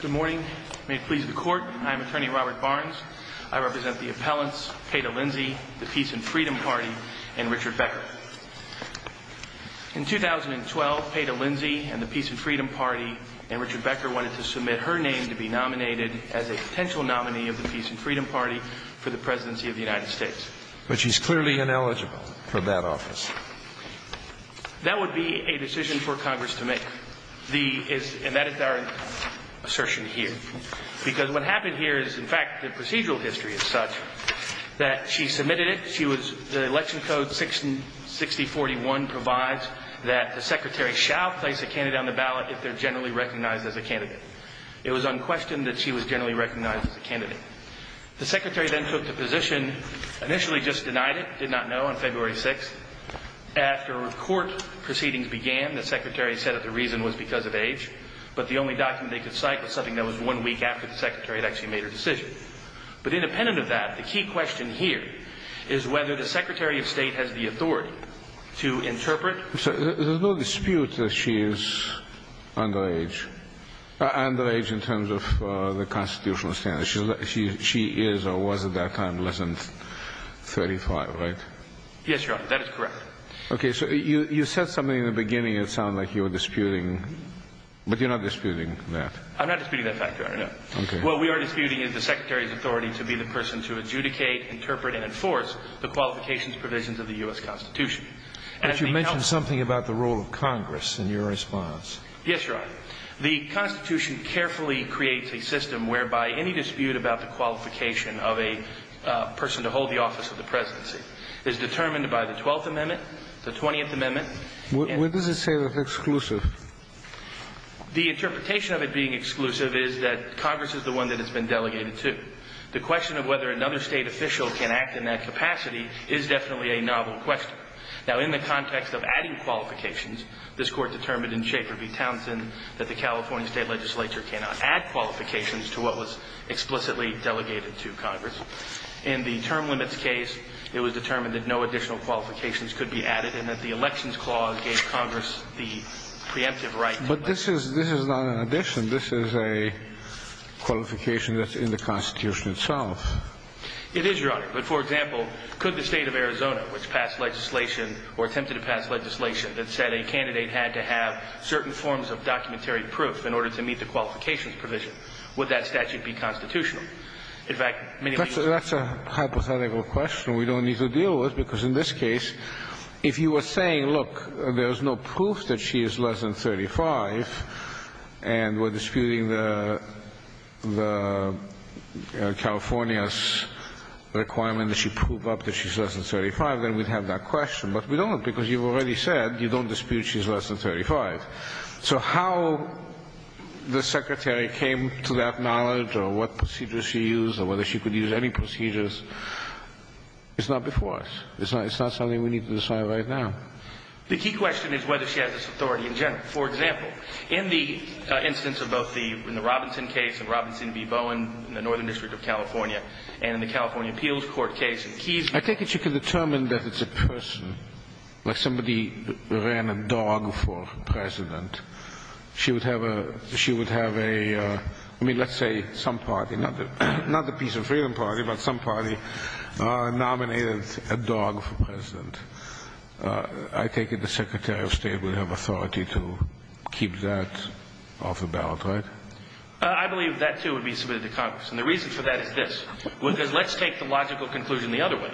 Good morning. May it please the Court, I am Attorney Robert Barnes. I represent the appellants, Peta Lindsay, the Peace and Freedom Party, and Richard Becker. In 2012, Peta Lindsay and the Peace and Freedom Party and Richard Becker wanted to submit her name to be nominated as a potential nominee of the Peace and Freedom Party for the Presidency of the United States. But she's clearly ineligible for that office. That would be a decision for Congress to make. And that is our assertion here. Because what happened here is, in fact, the procedural history is such that she submitted it. The Election Code 6041 provides that the Secretary shall place a candidate on the ballot if they're generally recognized as a candidate. It was unquestioned that she was generally recognized as a candidate. The Secretary then took the position, initially just denied it, did not know on February 6th. After court proceedings began, the Secretary said that the reason was because of age. But the only document they could cite was something that was one week after the Secretary had actually made her decision. But independent of that, the key question here is whether the Secretary of State has the authority to interpret. There's no dispute that she is underage, underage in terms of the constitutional standards. She is or was at that time less than 35, right? Yes, Your Honor, that is correct. Okay, so you said something in the beginning that sounded like you were disputing. But you're not disputing that. I'm not disputing that fact, Your Honor, no. Okay. What we are disputing is the Secretary's authority to be the person to adjudicate, interpret, and enforce the qualifications provisions of the U.S. Constitution. But you mentioned something about the role of Congress in your response. Yes, Your Honor. The Constitution carefully creates a system whereby any dispute about the qualification of a person to hold the office of the presidency is determined by the 12th Amendment, the 20th Amendment. What does it say about exclusive? The interpretation of it being exclusive is that Congress is the one that it's been delegated to. The question of whether another State official can act in that capacity is definitely a novel question. Now, in the context of adding qualifications, this Court determined in Schaefer v. Townsend that the California State Legislature cannot add qualifications to what was explicitly delegated to Congress. In the term limits case, it was determined that no additional qualifications could be added and that the Elections Clause gave Congress the preemptive right to elect. But this is not an addition. This is a qualification that's in the Constitution itself. It is, Your Honor. But, for example, could the State of Arizona, which passed legislation or attempted to pass legislation that said a candidate had to have certain forms of documentary proof in order to meet the qualifications provision, would that statute be constitutional? In fact, many reasons. That's a hypothetical question we don't need to deal with, because in this case, if you were saying, look, there's no proof that she is less than 35 and we're disputing the California's requirement that she prove up that she's less than 35, then we'd have that question. But we don't, because you already said you don't dispute she's less than 35. So how the Secretary came to that knowledge or what procedures she used or whether she could use any procedures is not before us. It's not something we need to decide right now. The key question is whether she has this authority in general. For example, in the instance of both the Robinson case and Robinson v. Bowen in the Northern District of California and in the California Appeals Court case in Keysburg. I take it you can determine that it's a person, like somebody ran a dog for president. She would have a, I mean, let's say some party, not the Peace and Freedom Party, but some party nominated a dog for president. I take it the Secretary of State would have authority to keep that off the ballot, right? I believe that, too, would be submitted to Congress. And the reason for that is this, because let's take the logical conclusion the other way.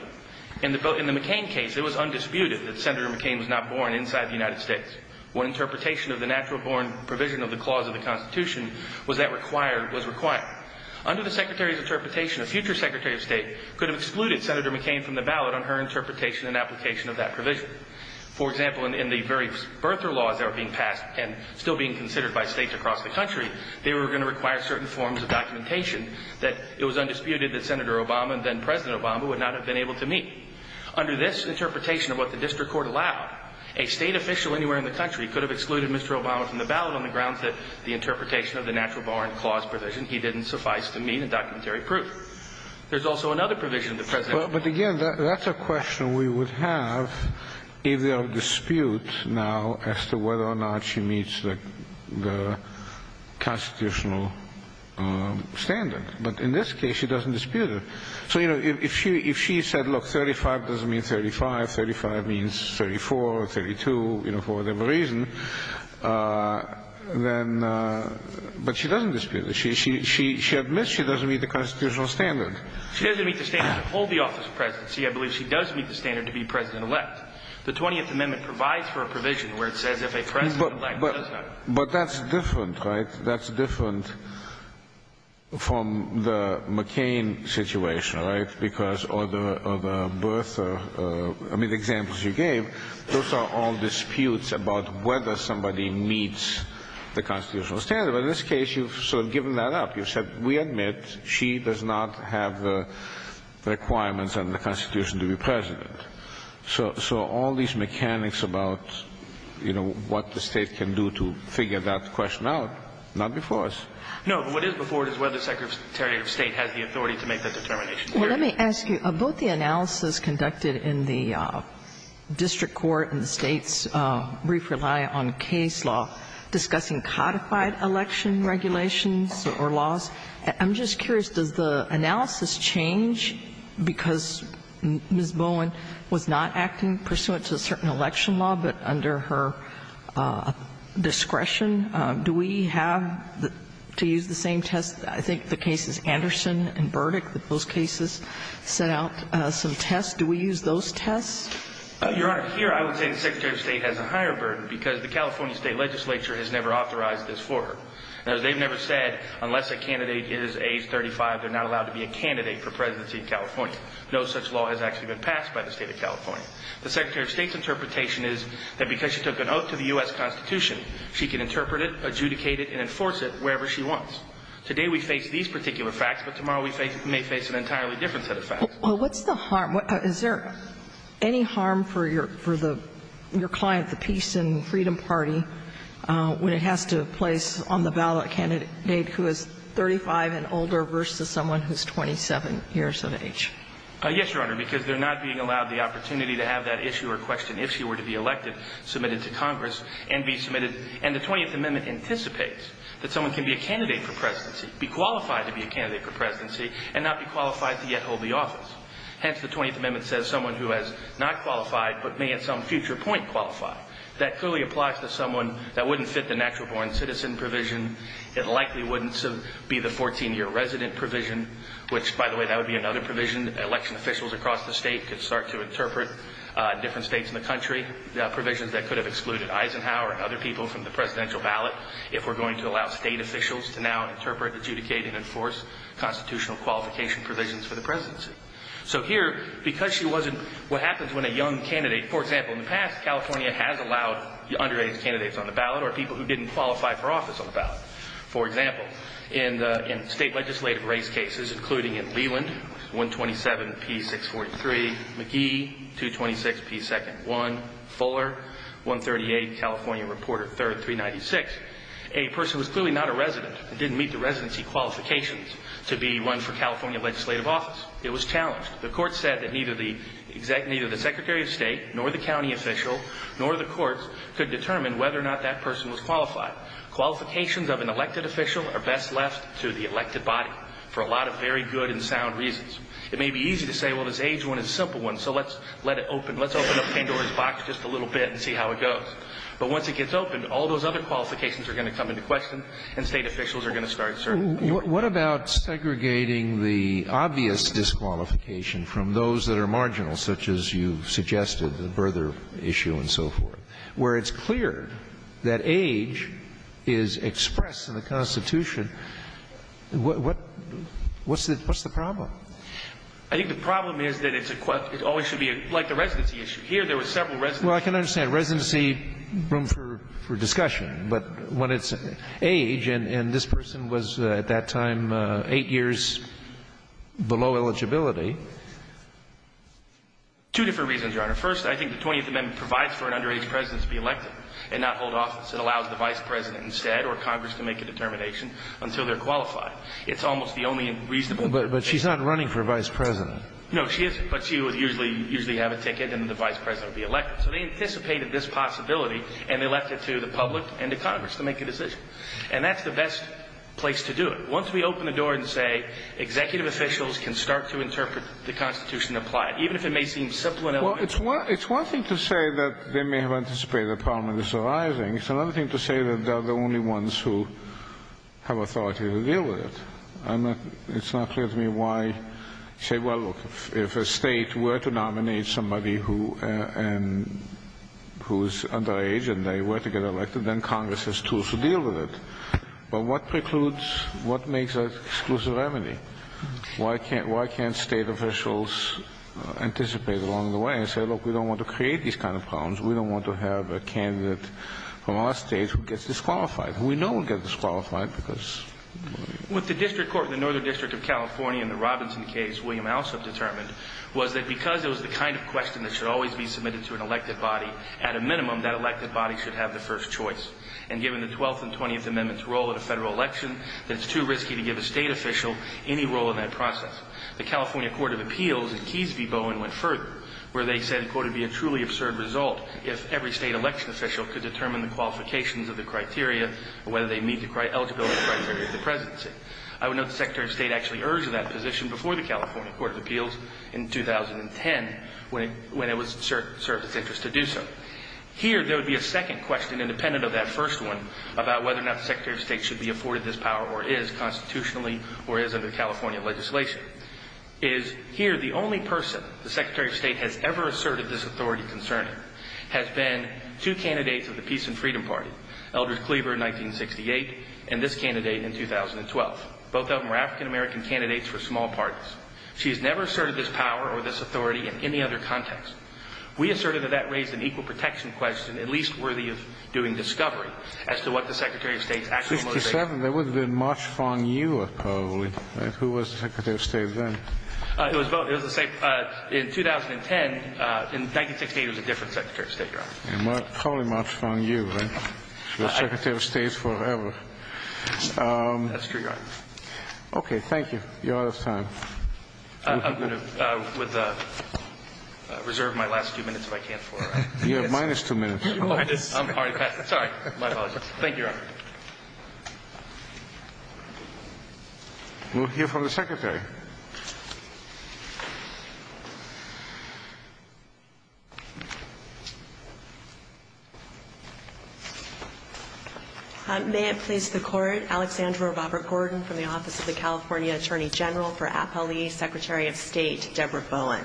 In the McCain case, it was undisputed that Senator McCain was not born inside the United States. One interpretation of the natural born provision of the clause of the Constitution was that required was required. Under the Secretary's interpretation, a future Secretary of State could have excluded Senator McCain from the ballot on her interpretation and application of that provision. For example, in the very birther laws that were being passed and still being considered by states across the country, they were going to require certain forms of documentation that it was undisputed that Senator Obama and then President Obama would not have been able to meet. Under this interpretation of what the district court allowed, a state official anywhere in the country could have excluded Mr. Obama from the ballot on the grounds that the interpretation of the natural born clause provision, he didn't suffice to meet a documentary proof. There's also another provision of the presidential provision. But, again, that's a question we would have if there are disputes now as to whether or not she meets the constitutional standard. But in this case, she doesn't dispute it. So, you know, if she said, look, 35 doesn't mean 35. 35 means 34 or 32, you know, for whatever reason. But she doesn't dispute it. She admits she doesn't meet the constitutional standard. She doesn't meet the standard to hold the office of presidency. I believe she does meet the standard to be president-elect. The 20th Amendment provides for a provision where it says if a president-elect does not. But that's different, right? From the McCain situation, right? Because of the birth, I mean, the examples you gave, those are all disputes about whether somebody meets the constitutional standard. But in this case, you've sort of given that up. You've said we admit she does not have the requirements under the Constitution to be president. So all these mechanics about, you know, what the state can do to figure that question out, not before us. No, but what is before us is whether the Secretary of State has the authority to make that determination. Well, let me ask you. Both the analysis conducted in the district court and the State's brief rely on case law discussing codified election regulations or laws, I'm just curious, does the analysis change because Ms. Bowen was not acting pursuant to certain election law but under her discretion? Do we have to use the same test? I think the case is Anderson and Burdick, that those cases set out some tests. Do we use those tests? Your Honor, here I would say the Secretary of State has a higher burden because the California State legislature has never authorized this for her. Now, they've never said unless a candidate is age 35, they're not allowed to be a candidate for presidency of California. No such law has actually been passed by the State of California. She can interpret it, adjudicate it, and enforce it wherever she wants. Today we face these particular facts, but tomorrow we may face an entirely different set of facts. Well, what's the harm? Is there any harm for your client, the Peace and Freedom Party, when it has to place on the ballot candidate who is 35 and older versus someone who's 27 years of age? Yes, Your Honor, because they're not being allowed the opportunity to have that issue or question if she were to be elected, submitted to Congress, and be submitted. And the 20th Amendment anticipates that someone can be a candidate for presidency, be qualified to be a candidate for presidency, and not be qualified to yet hold the office. Hence, the 20th Amendment says someone who has not qualified but may at some future point qualify. That clearly applies to someone that wouldn't fit the natural-born citizen provision. It likely wouldn't be the 14-year resident provision, which, by the way, that would be another provision. Election officials across the state could start to interpret, different states in the country, provisions that could have excluded Eisenhower and other people from the presidential ballot if we're going to allow state officials to now interpret, adjudicate, and enforce constitutional qualification provisions for the presidency. So here, because she wasn't, what happens when a young candidate, for example, in the past, California has allowed underage candidates on the ballot or people who didn't qualify for office on the ballot. For example, in state legislative race cases, including in Leland, 127-P-643, McGee, 226-P-2-1, Fuller, 138, California Reporter 3rd, 396, a person was clearly not a resident and didn't meet the residency qualifications to be run for California legislative office. It was challenged. The court said that neither the Secretary of State, nor the county official, nor the courts could determine whether or not that person was qualified. Qualifications of an elected official are best left to the elected body for a lot of very good and sound reasons. It may be easy to say, well, this age one is a simple one, so let's let it open, let's open up Pandora's box just a little bit and see how it goes. But once it gets open, all those other qualifications are going to come into question and state officials are going to start serving. Scalia. What about segregating the obvious disqualification from those that are marginal, such as you've suggested, the birther issue and so forth, where it's clear that age is expressed in the Constitution, what's the problem? I think the problem is that it always should be like the residency issue. Here there were several residents. Well, I can understand. Residency, room for discussion. But when it's age, and this person was at that time 8 years below eligibility. Two different reasons, Your Honor. First, I think the 20th Amendment provides for an underage president to be elected and not hold office. It allows the vice president instead or Congress to make a determination until they're qualified. It's almost the only reasonable. But she's not running for vice president. No, she isn't. But she would usually have a ticket and the vice president would be elected. So they anticipated this possibility and they left it to the public and to Congress to make a decision. And that's the best place to do it. Once we open the door and say executive officials can start to interpret the Constitution and apply it, even if it may seem simple and elementary. It's one thing to say that they may have anticipated the problem is arising. It's another thing to say that they're the only ones who have authority to deal with it. It's not clear to me why. Say, well, look, if a state were to nominate somebody who's underage and they were to get elected, then Congress has tools to deal with it. But what precludes, what makes that exclusive remedy? Why can't state officials anticipate along the way and say, look, we don't want to create these kind of problems. We don't want to have a candidate from our state who gets disqualified, who we know will get disqualified because. With the district court in the Northern District of California in the Robinson case, William Alsop determined was that because it was the kind of question that should always be submitted to an elected body, at a minimum, that elected body should have the first choice. And given the 12th and 20th Amendments' role in a Federal election, that it's too risky to give a state official any role in that process. The California Court of Appeals in Keyes v. Bowen went further, where they said, quote, it would be a truly absurd result if every state election official could determine the qualifications of the criteria or whether they meet the eligibility criteria of the presidency. I would note the Secretary of State actually urged that position before the California Court of Appeals in 2010, when it was served its interest to do so. Here, there would be a second question, independent of that first one, about whether or not the Secretary of State should be afforded this power or is constitutionally or is under California legislation. And the answer is, here, the only person the Secretary of State has ever asserted this authority concerning has been two candidates of the Peace and Freedom Party, Eldridge Cleaver in 1968 and this candidate in 2012. Both of them were African-American candidates for small parties. She has never asserted this power or this authority in any other context. We asserted that that raised an equal protection question, at least worthy of doing discovery, as to what the Secretary of State's actual motivation was. In 2007, there would have been March Fong Yu, probably. Who was the Secretary of State then? It was the same. In 2010, in 1968, it was a different Secretary of State, Your Honor. Probably March Fong Yu, right? She was Secretary of State forever. That's true, Your Honor. Okay. Thank you. You're out of time. I'm going to reserve my last two minutes if I can for it. You have minus two minutes. I'm already past it. Sorry. My apologies. Thank you, Your Honor. We'll hear from the Secretary. May it please the Court. Alexandra Robert Gordon from the Office of the California Attorney General for Appellees, Secretary of State, Deborah Bowen.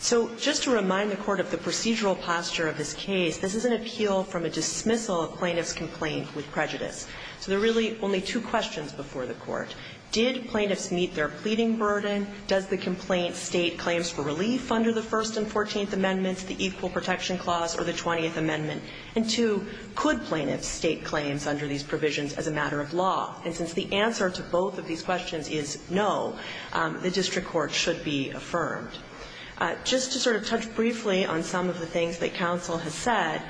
So just to remind the Court of the procedural posture of this case, this is an appeal from a dismissal of plaintiff's complaint with prejudice. So there are really only two questions before the Court. Did plaintiffs meet their pleading burden? Does the complaint state claims for relief under the First and Fourteenth Amendments, the Equal Protection Clause, or the Twentieth Amendment? And two, could plaintiffs state claims under these provisions as a matter of law? And since the answer to both of these questions is no, the district court should be affirmed. Just to sort of touch briefly on some of the things that counsel has said,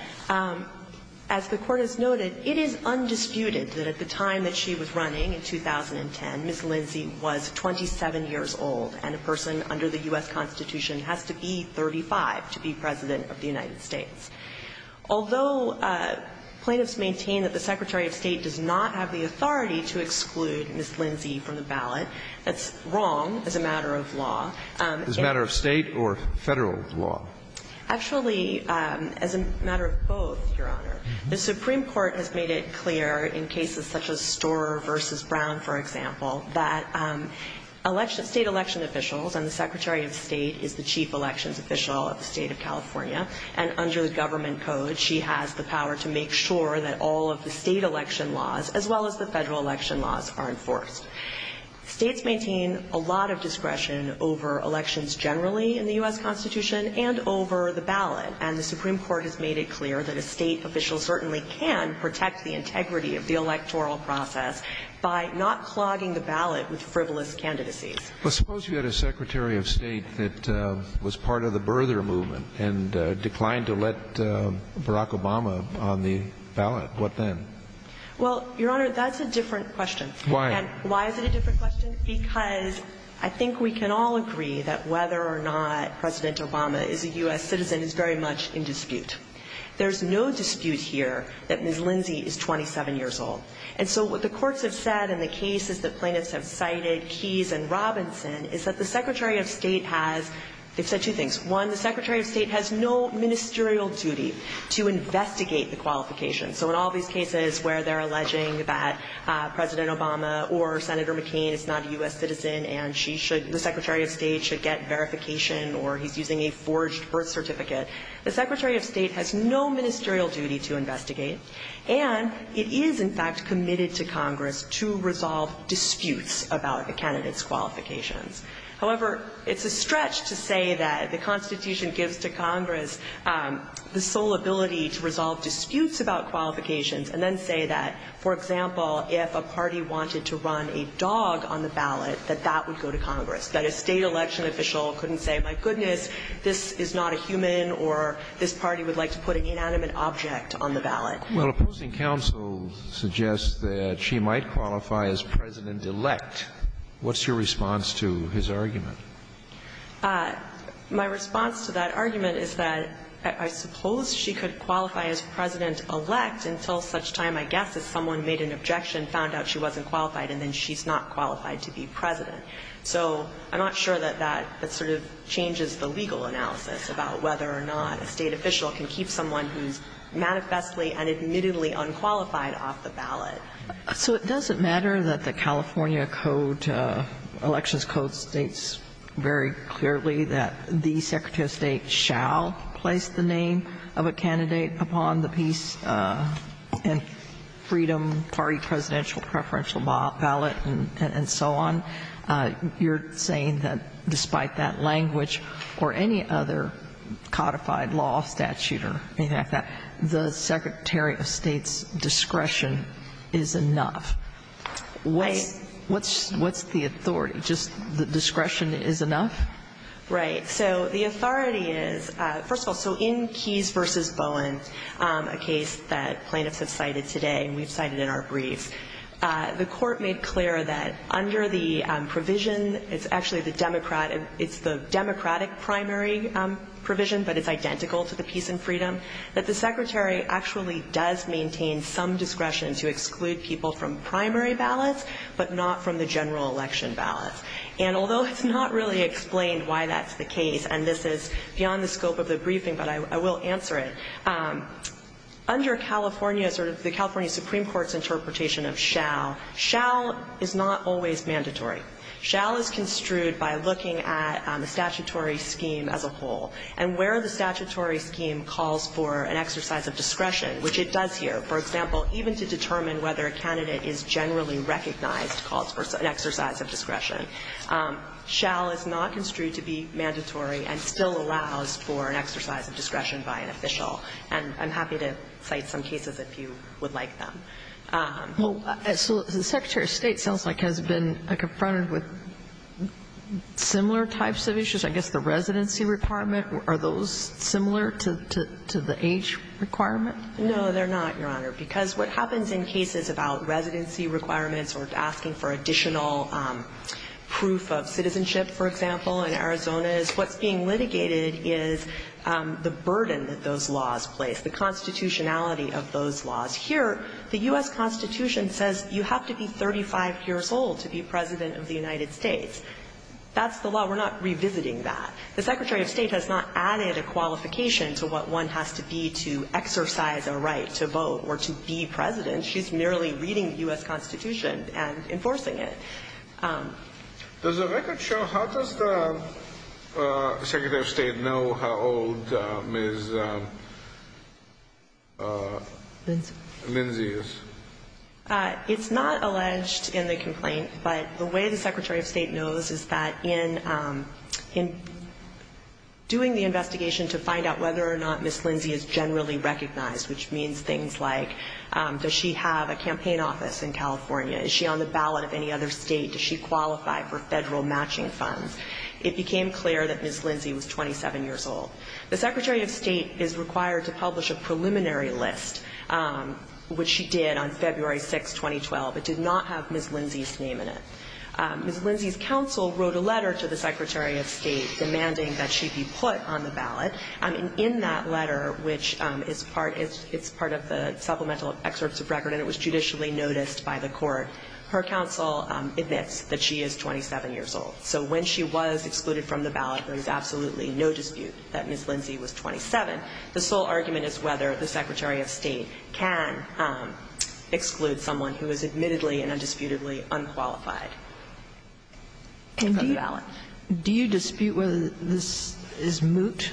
as the Court has noted, it is undisputed that at the time that she was running in 2010, Ms. Lindsay was 27 years old, and a person under the U.S. Constitution has to be 35 to be President of the United States. Although plaintiffs maintain that the Secretary of State does not have the authority to exclude Ms. Lindsay from the ballot, that's wrong as a matter of law. As a matter of State or Federal law? Actually, as a matter of both, Your Honor. The Supreme Court has made it clear in cases such as Storer v. Brown, for example, that election – State election officials and the Secretary of State is the chief elections official of the State of California, and under the government code, she has the power to make sure that all of the State election laws, as well as the Federal election laws, are enforced. States maintain a lot of discretion over elections generally in the U.S. Constitution and over the ballot, and the Supreme Court has made it clear that a State official certainly can protect the integrity of the electoral process by not clogging the ballot with frivolous candidacies. Well, suppose you had a Secretary of State that was part of the birther movement and declined to let Barack Obama on the ballot. What then? Well, Your Honor, that's a different question. Why? Why is it a different question? Because I think we can all agree that whether or not President Obama is a U.S. citizen is very much in dispute. There's no dispute here that Ms. Lindsay is 27 years old. And so what the courts have said in the cases that plaintiffs have cited, Keyes and Robinson, is that the Secretary of State has – they've said two things. One, the Secretary of State has no ministerial duty to investigate the qualifications. So in all these cases where they're alleging that President Obama or Senator McCain is not a U.S. citizen and she should – the Secretary of State should get verification or he's using a forged birth certificate, the Secretary of State has no ministerial duty to investigate. And it is, in fact, committed to Congress to resolve disputes about a candidate's qualifications. However, it's a stretch to say that the Constitution gives to Congress the sole ability to resolve disputes about qualifications and then say that, for example, if a party wanted to run a dog on the ballot, that that would go to Congress, that a State election official couldn't say, my goodness, this is not a human or this party would like to put an inanimate object on the ballot. Well, opposing counsel suggests that she might qualify as President-elect. What's your response to his argument? My response to that argument is that I suppose she could qualify as President-elect until such time, I guess, as someone made an objection, found out she wasn't qualified, and then she's not qualified to be President. So I'm not sure that that sort of changes the legal analysis about whether or not a State official can keep someone who's manifestly and admittedly unqualified off the ballot. So it doesn't matter that the California Code, Elections Code, states very clearly that the Secretary of State shall place the name of a candidate upon the peace and freedom party presidential preferential ballot and so on. You're saying that despite that language or any other codified law statute or anything like that, the Secretary of State's discretion is enough. What's the authority? Just the discretion is enough? Right. So the authority is, first of all, so in Keyes v. Bowen, a case that plaintiffs have cited today and we've cited in our brief, the Court made clear that under the provision, it's actually the Democratic primary provision, but it's identical to the peace and freedom, that the Secretary actually does maintain some discretion to exclude people from primary ballots, but not from the general election ballots. And although it's not really explained why that's the case, and this is beyond the scope of the briefing, but I will answer it, under California's or the California Supreme Court's interpretation of shall, shall is not always mandatory. Shall is construed by looking at the statutory scheme as a whole and where the statutory scheme calls for an exercise of discretion, which it does here. For example, even to determine whether a candidate is generally recognized calls for an exercise of discretion. Shall is not construed to be mandatory and still allows for an exercise of discretion by an official. And I'm happy to cite some cases if you would like them. So the Secretary of State sounds like has been confronted with similar types of issues. I guess the residency requirement, are those similar to the age requirement? No, they're not, Your Honor, because what happens in cases about residency requirements or asking for additional proof of citizenship, for example, in Arizona is what's being litigated is the burden that those laws place, the constitutionality of those laws. Here, the U.S. Constitution says you have to be 35 years old to be President of the United States. That's the law. We're not revisiting that. The Secretary of State has not added a qualification to what one has to be to exercise a right to vote or to be President. She's merely reading the U.S. Constitution and enforcing it. Does the record show how does the Secretary of State know how old Ms. Minzy is? It's not alleged in the complaint, but the way the Secretary of State knows is that in doing the investigation to find out whether or not Ms. Minzy is generally recognized, which means things like does she have a campaign office in California? Is she on the ballot of any other state? Does she qualify for federal matching funds? It became clear that Ms. Minzy was 27 years old. The Secretary of State is required to publish a preliminary list, which she did on February 6, 2012, but did not have Ms. Minzy's name in it. Ms. Minzy's counsel wrote a letter to the Secretary of State demanding that she be put on the ballot, and in that letter, which is part of the supplemental excerpts of record and it was judicially noticed by the court, her counsel admits that she is 27 years old. So when she was excluded from the ballot, there is absolutely no dispute that Ms. Minzy was 27. The sole argument is whether the Secretary of State can exclude someone who is admittedly and undisputedly unqualified. Do you dispute whether this is moot?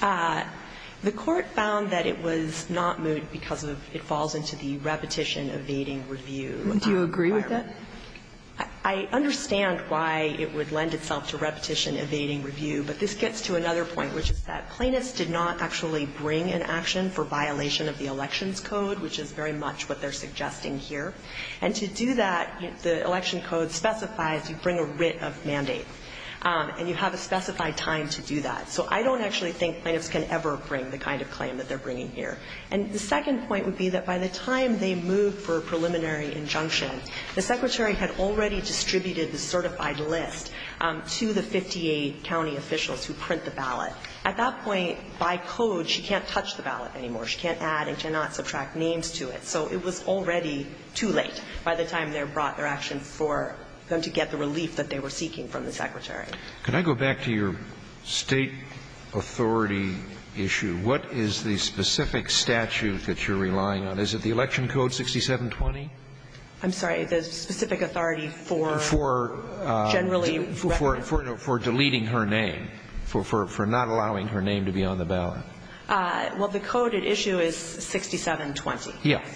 The court found that it was not moot because it falls into the repetition-evading review. Do you agree with that? I understand why it would lend itself to repetition-evading review, but this gets to another point, which is that plaintiffs did not actually bring an action for violation of the Elections Code, which is very much what they're suggesting here. And to do that, the Election Code specifies you bring a writ of mandate, and you have a specified time to do that. So I don't actually think plaintiffs can ever bring the kind of claim that they're bringing here. And the second point would be that by the time they moved for a preliminary injunction, the Secretary had already distributed the certified list to the 58 county officials who print the ballot. At that point, by code, she can't touch the ballot anymore. She can't add and cannot subtract names to it. So it was already too late by the time they brought their action for them to get the relief that they were seeking from the Secretary. Can I go back to your State authority issue? What is the specific statute that you're relying on? Is it the Election Code 6720? I'm sorry. The specific authority for generally recommending. For deleting her name, for not allowing her name to be on the ballot. Well, the code at issue is 6720. Yes.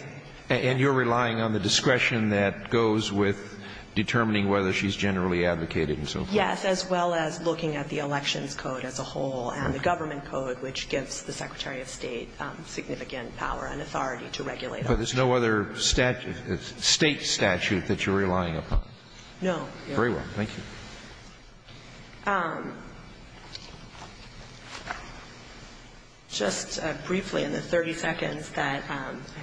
And you're relying on the discretion that goes with determining whether she's generally advocating and so forth? Yes, as well as looking at the Elections Code as a whole and the Government Code, which gives the Secretary of State significant power and authority to regulate elections. But there's no other State statute that you're relying upon? No. Very well. Thank you. Just briefly, in the 30 seconds that I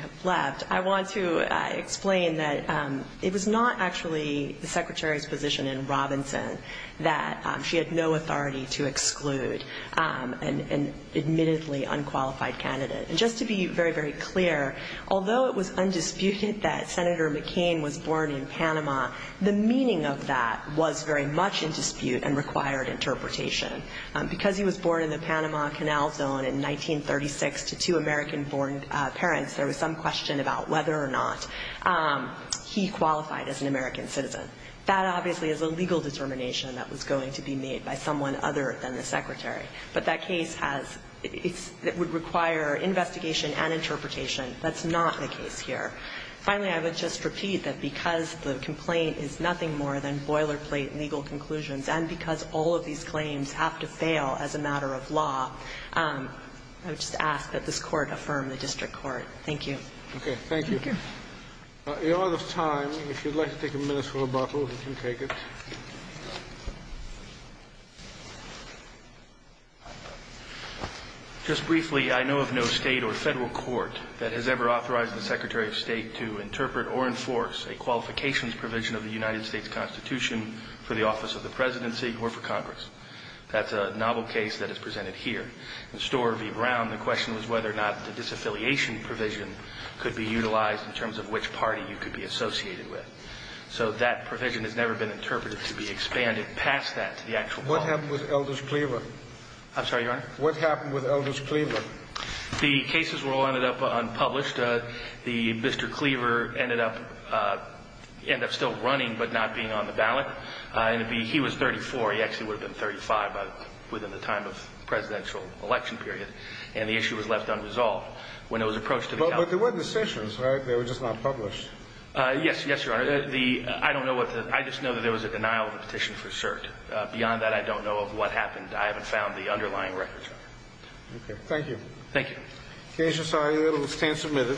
have left, I want to explain that it was not actually the Secretary's position in Robinson that she had no authority to exclude an admittedly unqualified candidate. And just to be very, very clear, although it was undisputed that Senator McCain was born in Panama, the meaning of that was very much in dispute and required interpretation. Because he was born in the Panama Canal Zone in 1936 to two American-born parents, there was some question about whether or not he qualified as an American citizen. That obviously is a legal determination that was going to be made by someone other than the Secretary. But that case has – it would require investigation and interpretation. That's not the case here. Finally, I would just repeat that because the complaint is nothing more than boilerplate legal conclusions, and because all of these claims have to fail as a matter of law, I would just ask that this Court affirm the district court. Thank you. Thank you. Thank you. In order of time, if you'd like to take a minute for rebuttal, you can take it. Just briefly, I know of no State or Federal court that has ever authorized the Secretary of State to interpret or enforce a qualifications provision of the United States Constitution for the office of the presidency or for Congress. That's a novel case that is presented here. In Storr v. Brown, the question was whether or not the disaffiliation provision could be utilized in terms of which party you could be associated with. So that provision has never been interpreted to be expanded past that to the actual problem. What happened with Elders Cleaver? I'm sorry, Your Honor? What happened with Elders Cleaver? The cases were all ended up unpublished. Mr. Cleaver ended up still running but not being on the ballot. He was 34. He actually would have been 35 within the time of the presidential election period. And the issue was left unresolved. But there were decisions, right? They were just not published. Yes, Your Honor. I just know that there was a denial of the petition for cert. Beyond that, I don't know of what happened. I haven't found the underlying records, Your Honor. Okay. Thank you. Thank you. The case is signed. It will stand submitted.